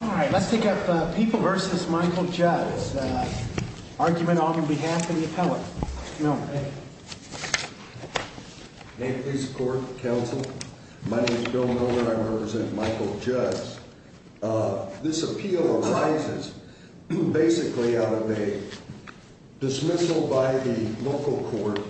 All right, let's take up People v. Michael Juds. Argument on behalf of the appellate. May it please the court, counsel. My name is Bill Miller and I represent Michael Juds. This appeal arises basically out of a dismissal by the local court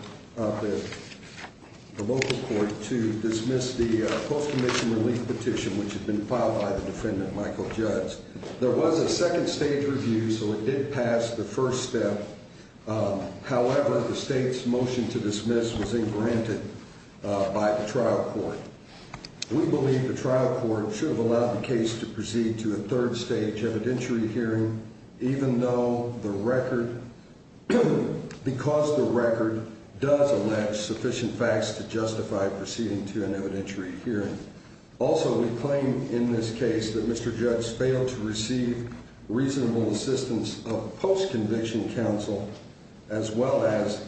to dismiss the post-commission relief petition which had been filed by the defendant, Michael Juds. There was a second stage review, so it did pass the first step. However, the state's motion to dismiss was engranted by the trial court. We believe the trial court should have allowed the case to proceed to a third stage evidentiary hearing, even though the record, because the record does allow sufficient facts to justify proceeding to an evidentiary hearing. Also, we claim in this case that Mr. Juds failed to receive reasonable assistance of post-conviction counsel, as well as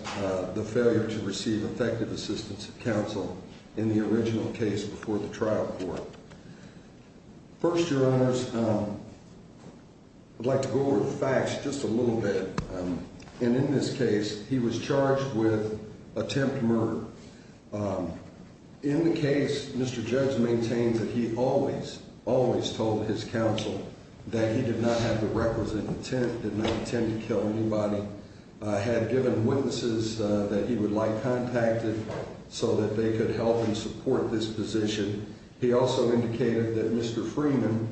the failure to receive effective assistance of counsel in the original case before the trial court. First, your honors, I'd like to go over the facts just a little bit. In this case, he was charged with attempt murder. In the case, Mr. Juds maintained that he always, always told his counsel that he did not have the requisite intent, did not intend to kill anybody, had given witnesses that he would like contacted so that they could help and support this position. He also indicated that Mr. Freeman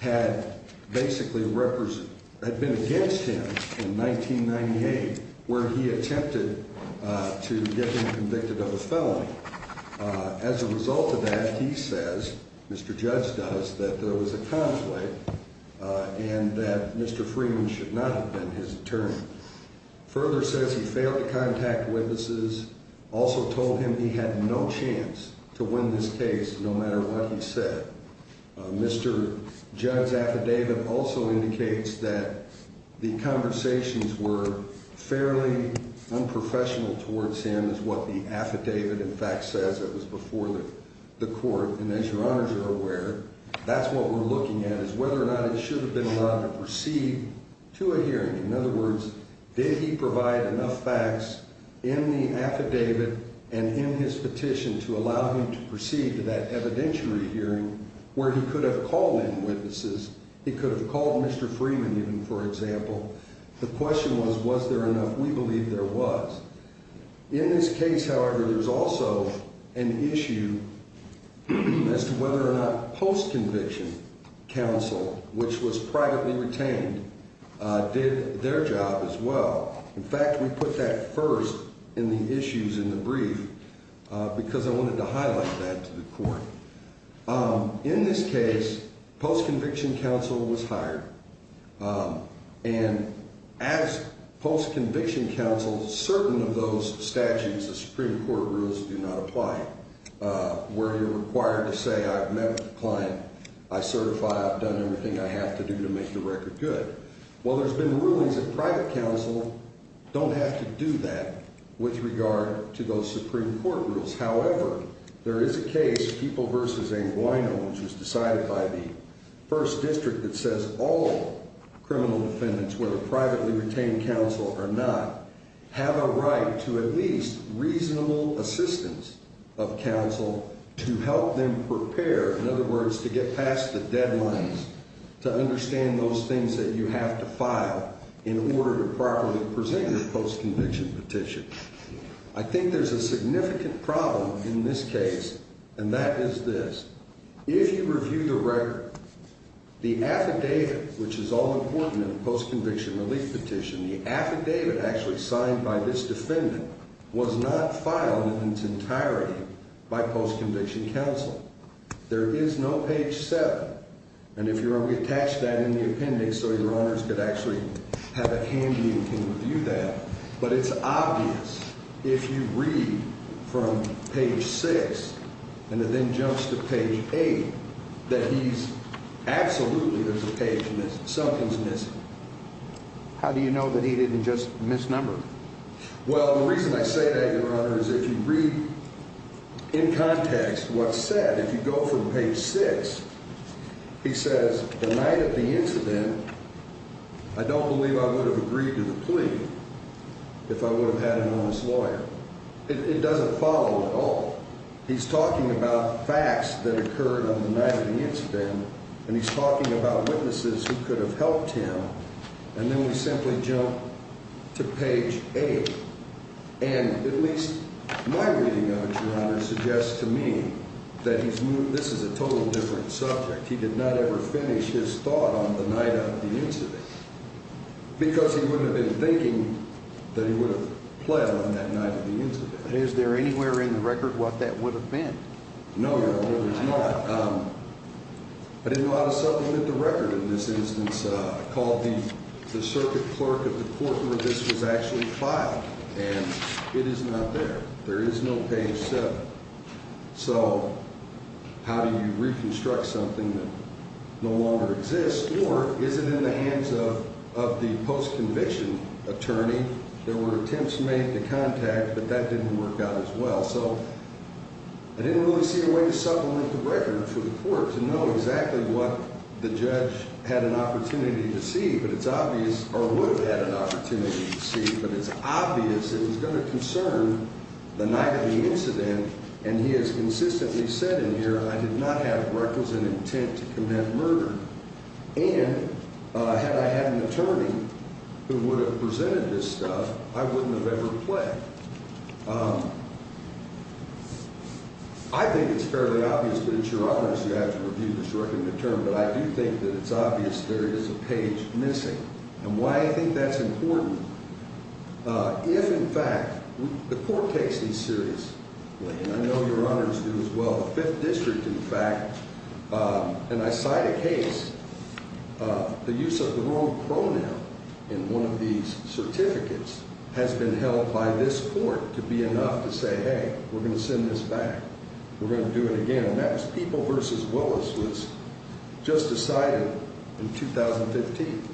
had basically been against him in 1998, where he attempted to get him convicted of a felony. As a result of that, he says, Mr. Juds does, that there was a conflict and that Mr. Freeman should not have been his attorney. Further says he failed to contact witnesses, also told him he had no chance to win this case, no matter what he said. Mr. Juds' affidavit also indicates that the conversations were fairly unprofessional towards him, is what the affidavit, in fact, says. It was before the court. And as your honors are aware, that's what we're looking at, is whether or not it should have been allowed to proceed to a hearing. In other words, did he provide enough facts in the affidavit and in his petition to allow him to proceed to that evidentiary hearing where he could have called in witnesses? He could have called Mr. Freeman, even, for example. The question was, was there enough? We believe there was. In this case, however, there's also an issue as to whether or not post-conviction counsel, which was privately retained, did their job as well. In fact, we put that first in the issues in the brief because I wanted to highlight that to the court. In this case, post-conviction counsel was hired. And as post-conviction counsel, certain of those statutes, the Supreme Court rules, do not apply where you're required to say, I've met with the client, I certify, I've done everything I have to do to make the record good. Well, there's been rulings that private counsel don't have to do that with regard to those Supreme Court rules. However, there is a case, People v. Anguano, which was decided by the First District that says all criminal defendants, whether privately retained counsel or not, have a right to at least reasonable assistance of counsel to help them prepare. In other words, to get past the trial, you have to file in order to properly present your post-conviction petition. I think there's a significant problem in this case, and that is this. If you review the record, the affidavit, which is all important in a post-conviction relief petition, the affidavit actually signed by this defendant was not filed in its entirety by post-conviction counsel. There is no page 7, and if you're able to attach that in the appendix so your honors could actually have it handy and can review that, but it's obvious if you read from page 6 and it then jumps to page 8 that he's absolutely, there's a page missing, something's missing. How do you know that he didn't just misnumber? Well, the reason I say that, your honor, is if you read in context what's said, if you go from page 6, he says, the night of the incident, I don't believe I would have agreed to the plea if I would have had an honest lawyer. It doesn't follow at all. He's talking about facts that occurred on the night of the incident, and he's talking about witnesses who could have helped him, and then we simply jump to page 8, and at least my reading of it, your honor, suggests to me that he's moved, this is a total different subject. He did not ever finish his thought on the night of the incident because he wouldn't have been thinking that he would have pled on that night of the incident. Is there anywhere in the record what that would have been? No, your honor, there's not, but in a lot of cases, I look at the clerk of the court where this was actually filed, and it is not there. There is no page 7. So how do you reconstruct something that no longer exists, or is it in the hands of the post-conviction attorney? There were attempts made to contact, but that didn't work out as well, so I didn't really see a way to supplement the record for the court to know exactly what the judge had an opportunity to see, but it's obvious, or would have had an opportunity to see, but it's obvious that he's going to concern the night of the incident, and he has consistently said in here, I did not have records and intent to commit murder, and had I had an attorney who would have presented this stuff, I wouldn't have ever pled. I think it's fairly obvious, but it's your honor's, you have to review this record in the term, but I do think that it's obvious there is a page missing, and why I think that's important. If, in fact, the court takes these seriously, and I know your honors do as well, the Fifth District, in fact, and I cite a case, the use of the wrong pronoun in one of these certificates has been held by this court to be enough to say, hey, we're going to send this back, we're going to do it again, and that was People v. Willis was just decided in 2015,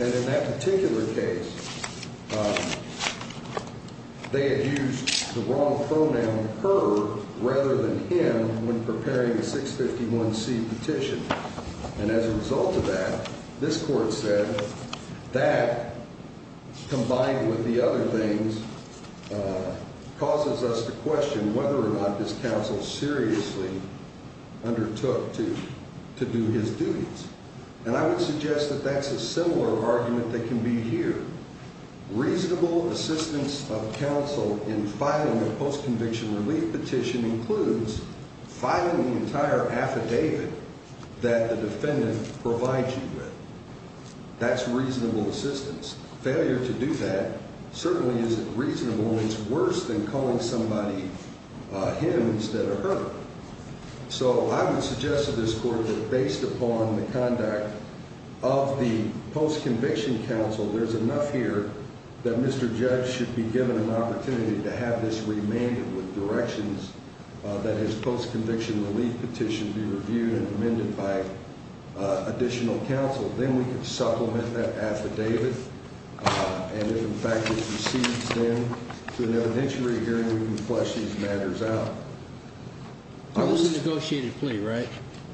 and in that particular case, they had used the wrong pronoun, her, rather than him when preparing a 651C petition, and as a result of that, this court said that, combined with the other things, causes us to question whether or not this counsel seriously undertook to do his duties, and I would suggest that that's a similar argument that can be here. Reasonable assistance of counsel in filing a postconviction relief petition includes filing the entire affidavit that the defendant provides you with. That's reasonable assistance. Failure to do that certainly isn't reasonable. It's worse than calling somebody him instead of her, so I would suggest to this court that, based upon the conduct of the postconviction counsel, there's enough here that Mr. Judge should be given an opportunity to have this remanded with directions that his postconviction relief petition be reviewed and amended by additional counsel. Then we can supplement that affidavit, and if, in fact, it recedes then to an evidentiary hearing, we can flesh these matters out. It was a negotiated plea, right?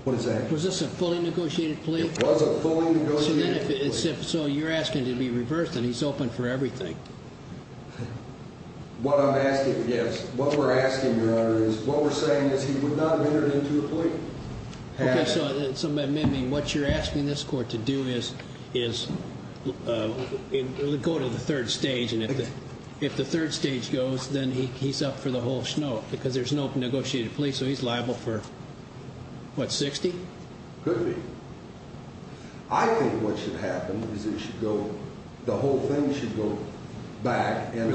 What is that? Was this a fully negotiated plea? It was a fully negotiated plea. So you're asking to be reversed, and he's open for everything. What I'm asking, yes, what we're asking, Your Honor, is what we're saying is he would not have entered into a plea. Okay, so in some amending, what you're asking this court to do is go to the third stage, and if the third stage goes, then he's up for the whole schnoke, because there's no negotiated plea, so he's liable for, what, 60? Could be. I think what should happen is it should go, the whole thing should go back and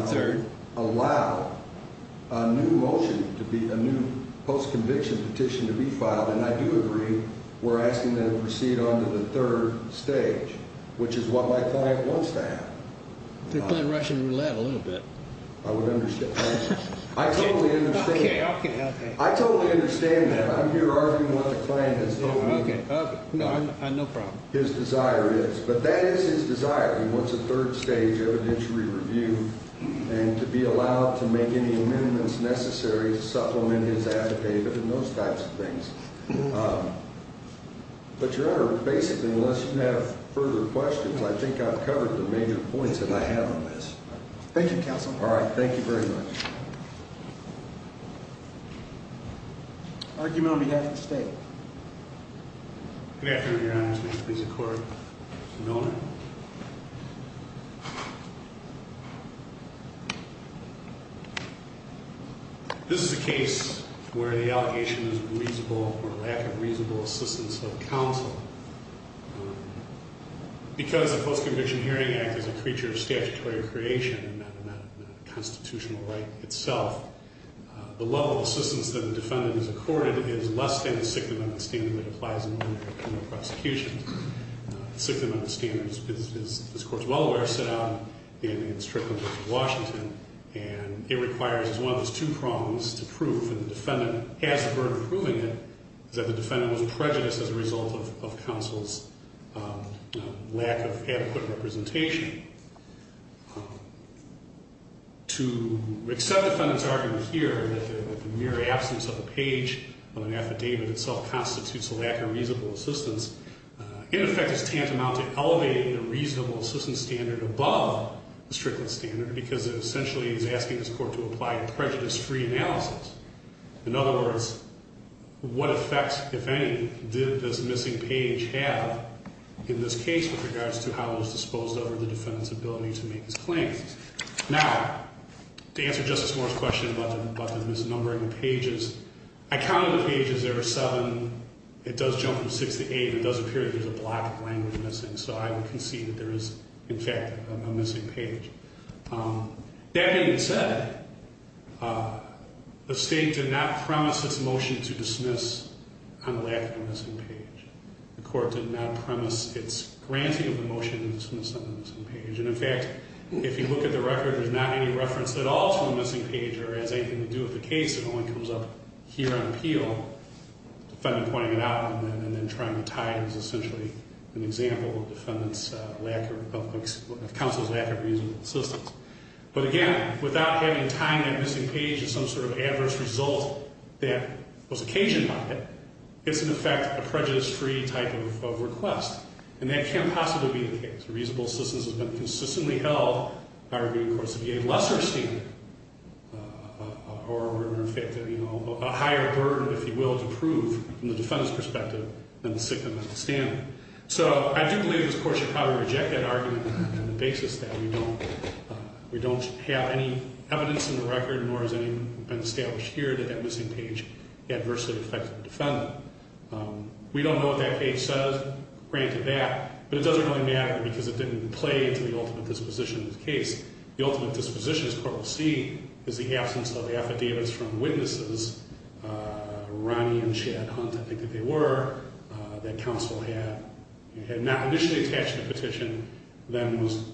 allow a new motion to be, a new postconviction petition to be filed, and I do agree we're asking that it proceed on to the third stage, which is what my client wants to have. They're playing Russian roulette a little bit. I would understand. I totally understand. Okay, okay, okay. I totally understand that. I'm here arguing what the client has told me. Okay, okay, no problem. His desire is, but that is his desire. He wants a third stage evidentiary review and to be allowed to make any amendments necessary to supplement his affidavit and those types of things. But, Your Honor, basically, unless you have further questions, I think I've covered the major points that I have on this. Thank you, Counsel. All right, thank you very much. Argument on behalf of the state. Good afternoon, Your Honor. This is a case where the allegation is reasonable or lack of reasonable assistance of counsel. Because the Post-Conviction Hearing Act is a creature of statutory creation and not a constitutional right itself, the level of assistance that the defendant is accorded is less than the sixth amendment standard that applies in a criminal prosecution. The sixth amendment standard, as this Court is well aware, is set out in the District of Washington, and it requires as one of those two prongs to prove, and the defendant has the burden of proving it, is that the defendant was prejudiced as a result of counsel's lack of adequate representation. To accept the defendant's argument here, that the mere absence of a page on an affidavit itself constitutes a lack of reasonable assistance, in effect, is tantamount to elevating the reasonable assistance standard above the strictness standard, because it essentially is asking this Court to apply a prejudice-free analysis. In other words, what effects, if any, did this missing page have in this case with regards to how it was disposed of or the defendant's record? The defendant's ability to make his claims. Now, to answer Justice Moore's question about the misnumbering of pages, I counted the pages. There are seven. It does jump from six to eight. It does appear that there's a block of language missing, so I would concede that there is, in fact, a missing page. That being said, the state did not promise its motion to dismiss on the lack of a missing page. The Court did not promise its granting of the motion to dismiss on the missing page. And in fact, if you look at the record, there's not any reference at all to a missing page or has anything to do with the case. It only comes up here on appeal, the defendant pointing it out and then trying to tie it as essentially an example of defendant's lack of, of counsel's lack of reasonable assistance. But again, without having time, that missing page is some sort of adverse result that was occasioned by it. It's, in effect, a prejudice-free type of request. And that can't possibly be the case. Reasonable assistance has been consistently held, arguing, of course, to be a lesser standard or, in effect, a higher burden, if you will, to prove, from the defendant's perspective, than the sickness of the standing. So I do believe this Court should probably reject that argument on the basis that we don't have any evidence in the record, nor has any been established here, that that missing page adversely affected the defendant. We don't know what that page says, granted that, but it doesn't really matter because it didn't play into the ultimate disposition of the case. The ultimate disposition, as the Court will see, is the absence of affidavits from witnesses, Ronnie and Chad Hunt, I think that they were, that counsel had, and had not initially attached to the petition. Then was,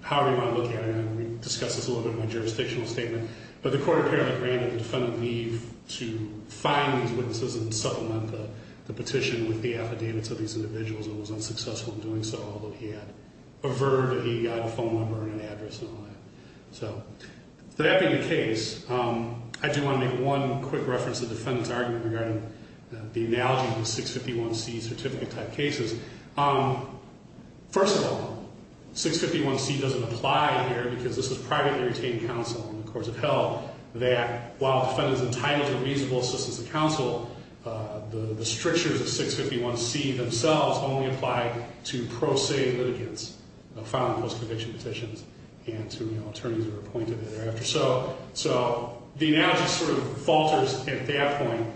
however you want to look at it, and we discussed this a little bit in my jurisdictional statement, but the Court apparently granted the defendant leave to find these witnesses and supplement the petition with the affidavits of these individuals. It was unsuccessful in doing so, although he had a verdict that he got a phone number and an address and all that. So, that being the case, I do want to make one quick reference to the defendant's argument regarding the analogy of the 651C certificate-type cases. First of all, 651C doesn't apply here because this is privately retained counsel and the courts have held that while a defendant is entitled to reasonable assistance of counsel, the strictures of 651C themselves only apply to pro se litigants, filing post-conviction petitions, and to attorneys who are appointed thereafter. So, the analogy sort of falters at that point.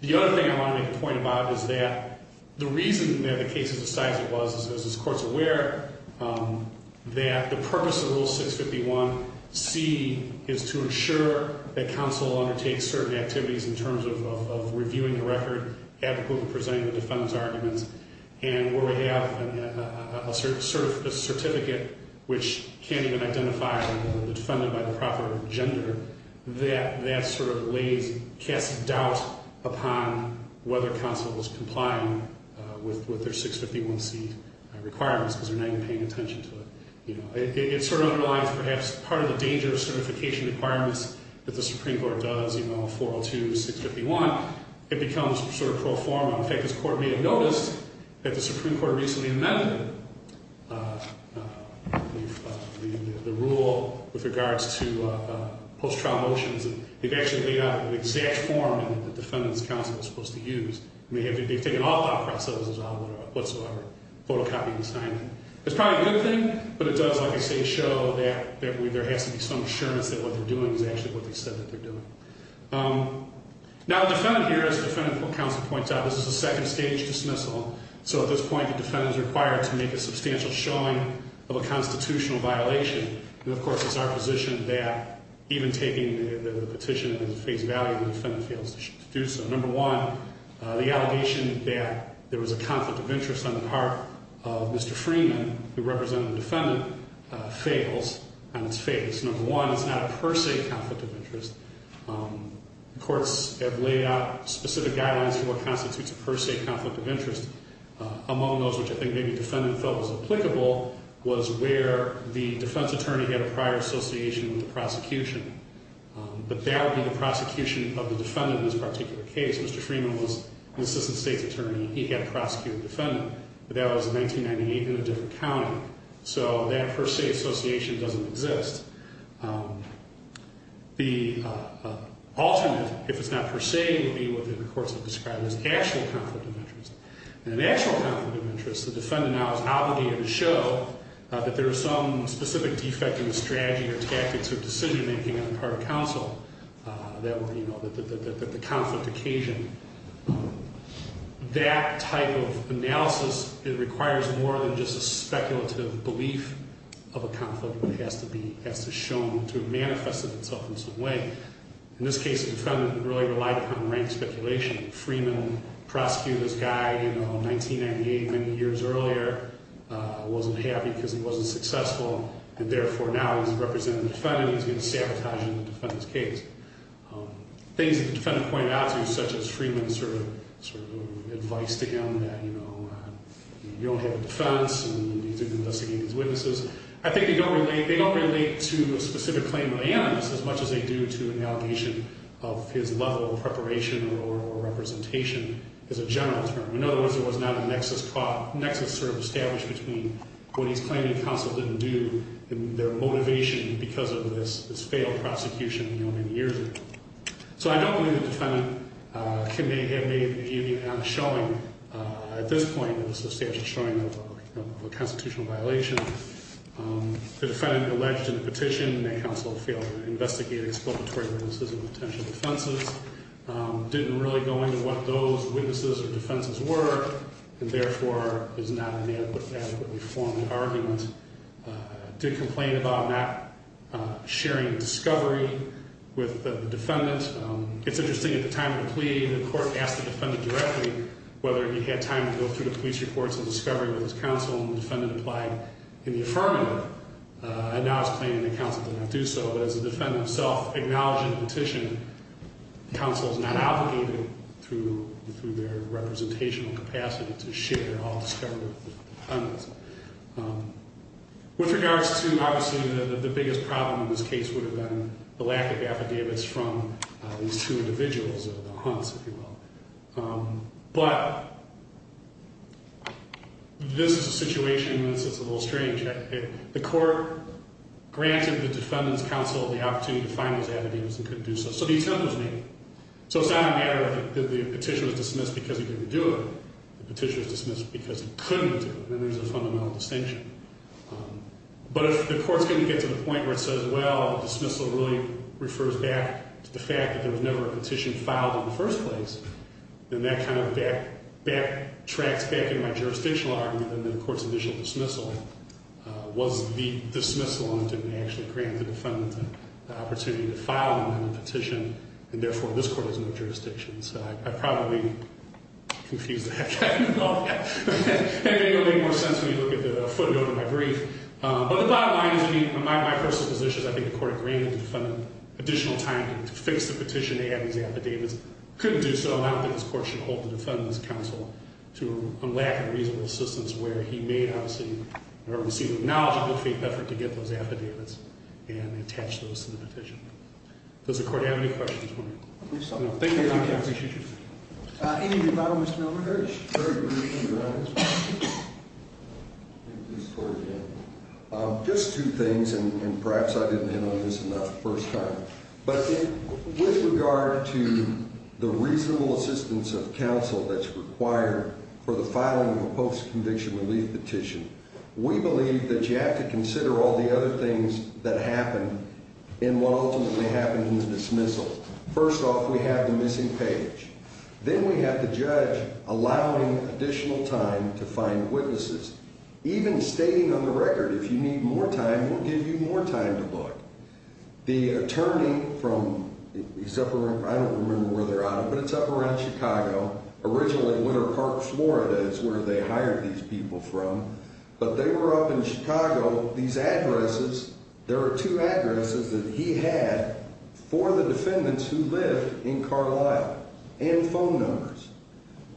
The other thing I want to make a point about is that the reason that the case is the size it was, as this Court's aware, that the purpose of Rule 651C is to ensure that counsel undertakes certain activities in terms of reviewing the record, adequately presenting the defendant's arguments, and where we have a certificate which can't even identify the defendant by the proper gender, that sort of lays a cast of doubt upon whether counsel is complying with their 651C requirements because they're not even paying attention to it. It sort of underlines perhaps part of the danger of certification requirements that the Supreme Court does, you know, 402 to 651. It becomes sort of pro forma. In fact, this Court may have noticed that the Supreme Court recently amended the rule with regards to post-trial motions, and they've actually laid out an exact form that the defendant's counsel is supposed to use. I mean, they've taken all thought processes out of it whatsoever, photocopying and signing. It's probably a good thing, but it does, like I say, show that there has to be some assurance that what they're doing is actually what they said that they're doing. Now, the defendant here, as the defendant counsel points out, this is a second stage dismissal. So at this point, the defendant is required to make a substantial showing of a constitutional violation. And of course, it's our position that even taking the petition at face value, the defendant fails to do so. Number one, the allegation that there was a conflict of interest on the part of Mr. Freeman, who represented the defendant, fails on its face. Number one, it's not a per se conflict of interest. Courts have laid out specific guidelines for what constitutes a per se conflict of interest. Among those, which I think maybe the defendant felt was applicable, was where the defense attorney had a prior association with the prosecution. But that would be the prosecution of the defendant in this particular case. Mr. Freeman was an assistant state's attorney. He had a prosecuting defendant, but that was in 1998 in a different county. So that per se association doesn't exist. The alternate, if it's not per se, would be what the courts have described as actual conflict of interest. And in actual conflict of interest, the defendant now is obligated to show that there was some specific defect in the strategy or tactics or decision making on the part of counsel that were, you know, that the conflict occasioned. That type of analysis, it requires more than just a speculative belief of a conflict. It has to be, has to show, to have manifested itself in some way. In this case, the defendant really relied upon rank speculation. Freeman prosecuted this guy, you know, in 1998, many years earlier, wasn't happy because he wasn't successful, and therefore now he's representing the defendant, and he's going to sabotage the defendant's case. Things that the defendant pointed out to you, such as Freeman sort of, sort of advised to him that, you know, you don't have a defense, and you need to investigate these witnesses. I think they don't relate, they don't relate to a specific claim of the anonymous as much as they do to an allegation of his level of preparation or representation as a general term. In other words, there was not a nexus sort of established between what he's claiming counsel didn't do and their motivation because of this failed prosecution, you know, many years ago. So I don't believe the defendant can have made a view on showing at this point, it was a substantial showing of a constitutional violation. The defendant alleged in the petition that counsel failed to investigate exploitatory witnesses of potential defenses. Didn't really go into what those witnesses or defenses were, and therefore is not an adequately formed argument. Did complain about not sharing discovery with the defendant. It's interesting, at the time of the plea, the court asked the defendant directly whether he had time to go through the police reports of discovery with his counsel. And the defendant applied in the affirmative, and now is claiming that counsel did not do so. But as the defendant himself acknowledged in the petition, counsel is not obligated through their representational capacity to share all discovery with the defendants. With regards to, obviously, the biggest problem in this case would have been the lack of affidavits from these two individuals, the Hunts, if you will. But this is a situation that's a little strange. The court granted the defendant's counsel the opportunity to find those affidavits and couldn't do so. So the attempt was made. So it's not a matter of the petition was dismissed because he didn't do it. The petition was dismissed because he couldn't do it, and there's a fundamental distinction. But if the court's going to get to the point where it says, well, dismissal really refers back to the fact that there was never a petition filed in the first place. Then that kind of backtracks back into my jurisdictional argument that the court's additional dismissal was the dismissal and didn't actually grant the defendant the opportunity to file a petition. And therefore, this court has no jurisdiction. So I probably confused that guy a little bit. It made a little bit more sense when you look at the footnote of my brief. But the bottom line is, I mean, in my personal position, I think the court agreed that the defendant had additional time to fix the petition to have these affidavits. Couldn't do so, and I don't think this court should hold the defendant's counsel to a lack of reasonable assistance where he may obviously have received a knowledgeable faith effort to get those affidavits and attach those to the petition. Does the court have any questions? No, thank you, your honor, I appreciate you. Any rebuttal, Mr. Milner-Hurtish? Very briefly, your honor, just two things, and perhaps I didn't hit on this enough the first time. But with regard to the reasonable assistance of counsel that's required for the filing of a post-conviction relief petition, we believe that you have to consider all the other things that happened in what ultimately happened in the dismissal. First off, we have the missing page. Then we have the judge allowing additional time to find witnesses. Even stating on the record, if you need more time, we'll give you more time to look. The attorney from, I don't remember where they're out of, but it's up around Chicago. Originally, Winter Park, Florida is where they hired these people from. But they were up in Chicago. These addresses, there are two addresses that he had for the defendants who lived in Carlisle, and phone numbers.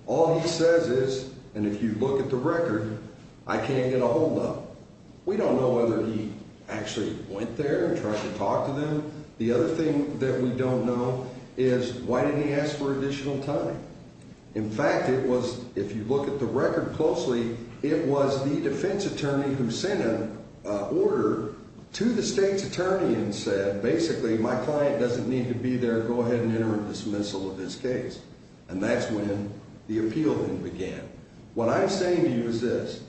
All he says is, and if you look at the record, I can't get a hold up. We don't know whether he actually went there and tried to talk to them. The other thing that we don't know is, why didn't he ask for additional time? In fact, if you look at the record closely, it was the defense attorney who sent an order to the state's attorney and said, basically, my client doesn't need to be there, go ahead and enter a dismissal of this case. And that's when the appeal then began. What I'm saying to you is this.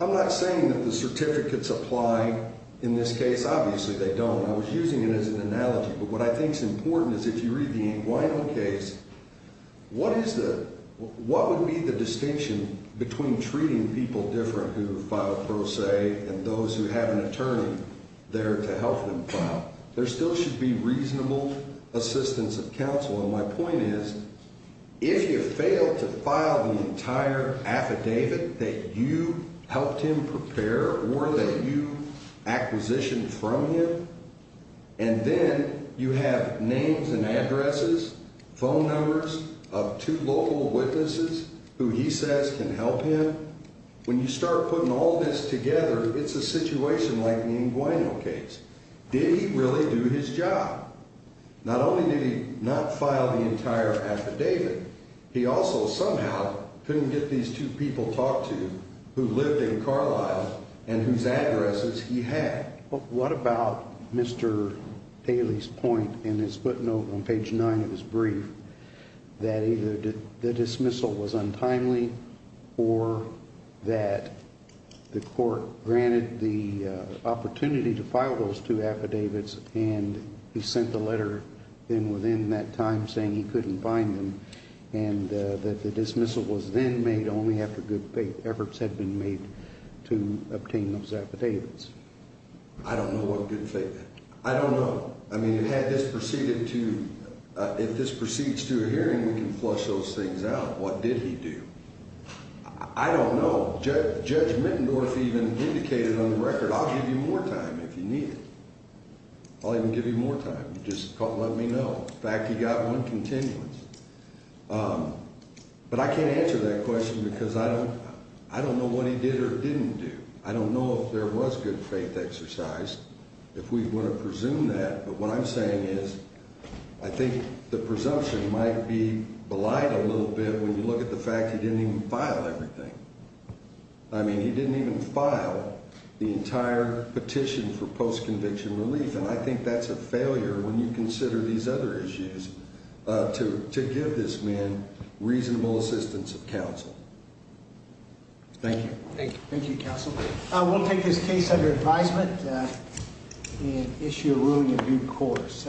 I'm not saying that the certificates apply in this case. Obviously, they don't. I was using it as an analogy. But what I think's important is, if you read the Anguano case, what would be the distinction between treating people different who filed pro se and those who have an attorney there to help them file? There still should be reasonable assistance of counsel. And my point is, if you fail to file the entire affidavit that you helped him prepare or that you acquisition from him, and then you have names and addresses, phone numbers of two local witnesses who he says can help him. When you start putting all this together, it's a situation like the Anguano case. Did he really do his job? Not only did he not file the entire affidavit, he also somehow couldn't get these two people talked to who lived in Carlisle and whose addresses he had. What about Mr. Daly's point in his footnote on page nine of his brief? That either the dismissal was untimely or that the court granted the opportunity to file those two affidavits and he sent the letter in within that time saying he couldn't find them. And that the dismissal was then made only after good efforts had been made to obtain those affidavits. I don't know what good faith. I don't know. I mean, if this proceeds to a hearing, we can flush those things out. What did he do? I don't know. Judge Mittendorf even indicated on the record, I'll give you more time if you need it. I'll even give you more time. Just let me know. In fact, he got one continuance. But I can't answer that question because I don't know what he did or didn't do. I don't know if there was good faith exercised. If we were to presume that, but what I'm saying is, I think the presumption might be belied a little bit when you look at the fact he didn't even file everything. I mean, he didn't even file the entire petition for post-conviction relief. And I think that's a failure when you consider these other issues to give this man reasonable assistance of counsel. Thank you. Thank you, counsel. We'll take this case under advisement and issue a ruling in due course.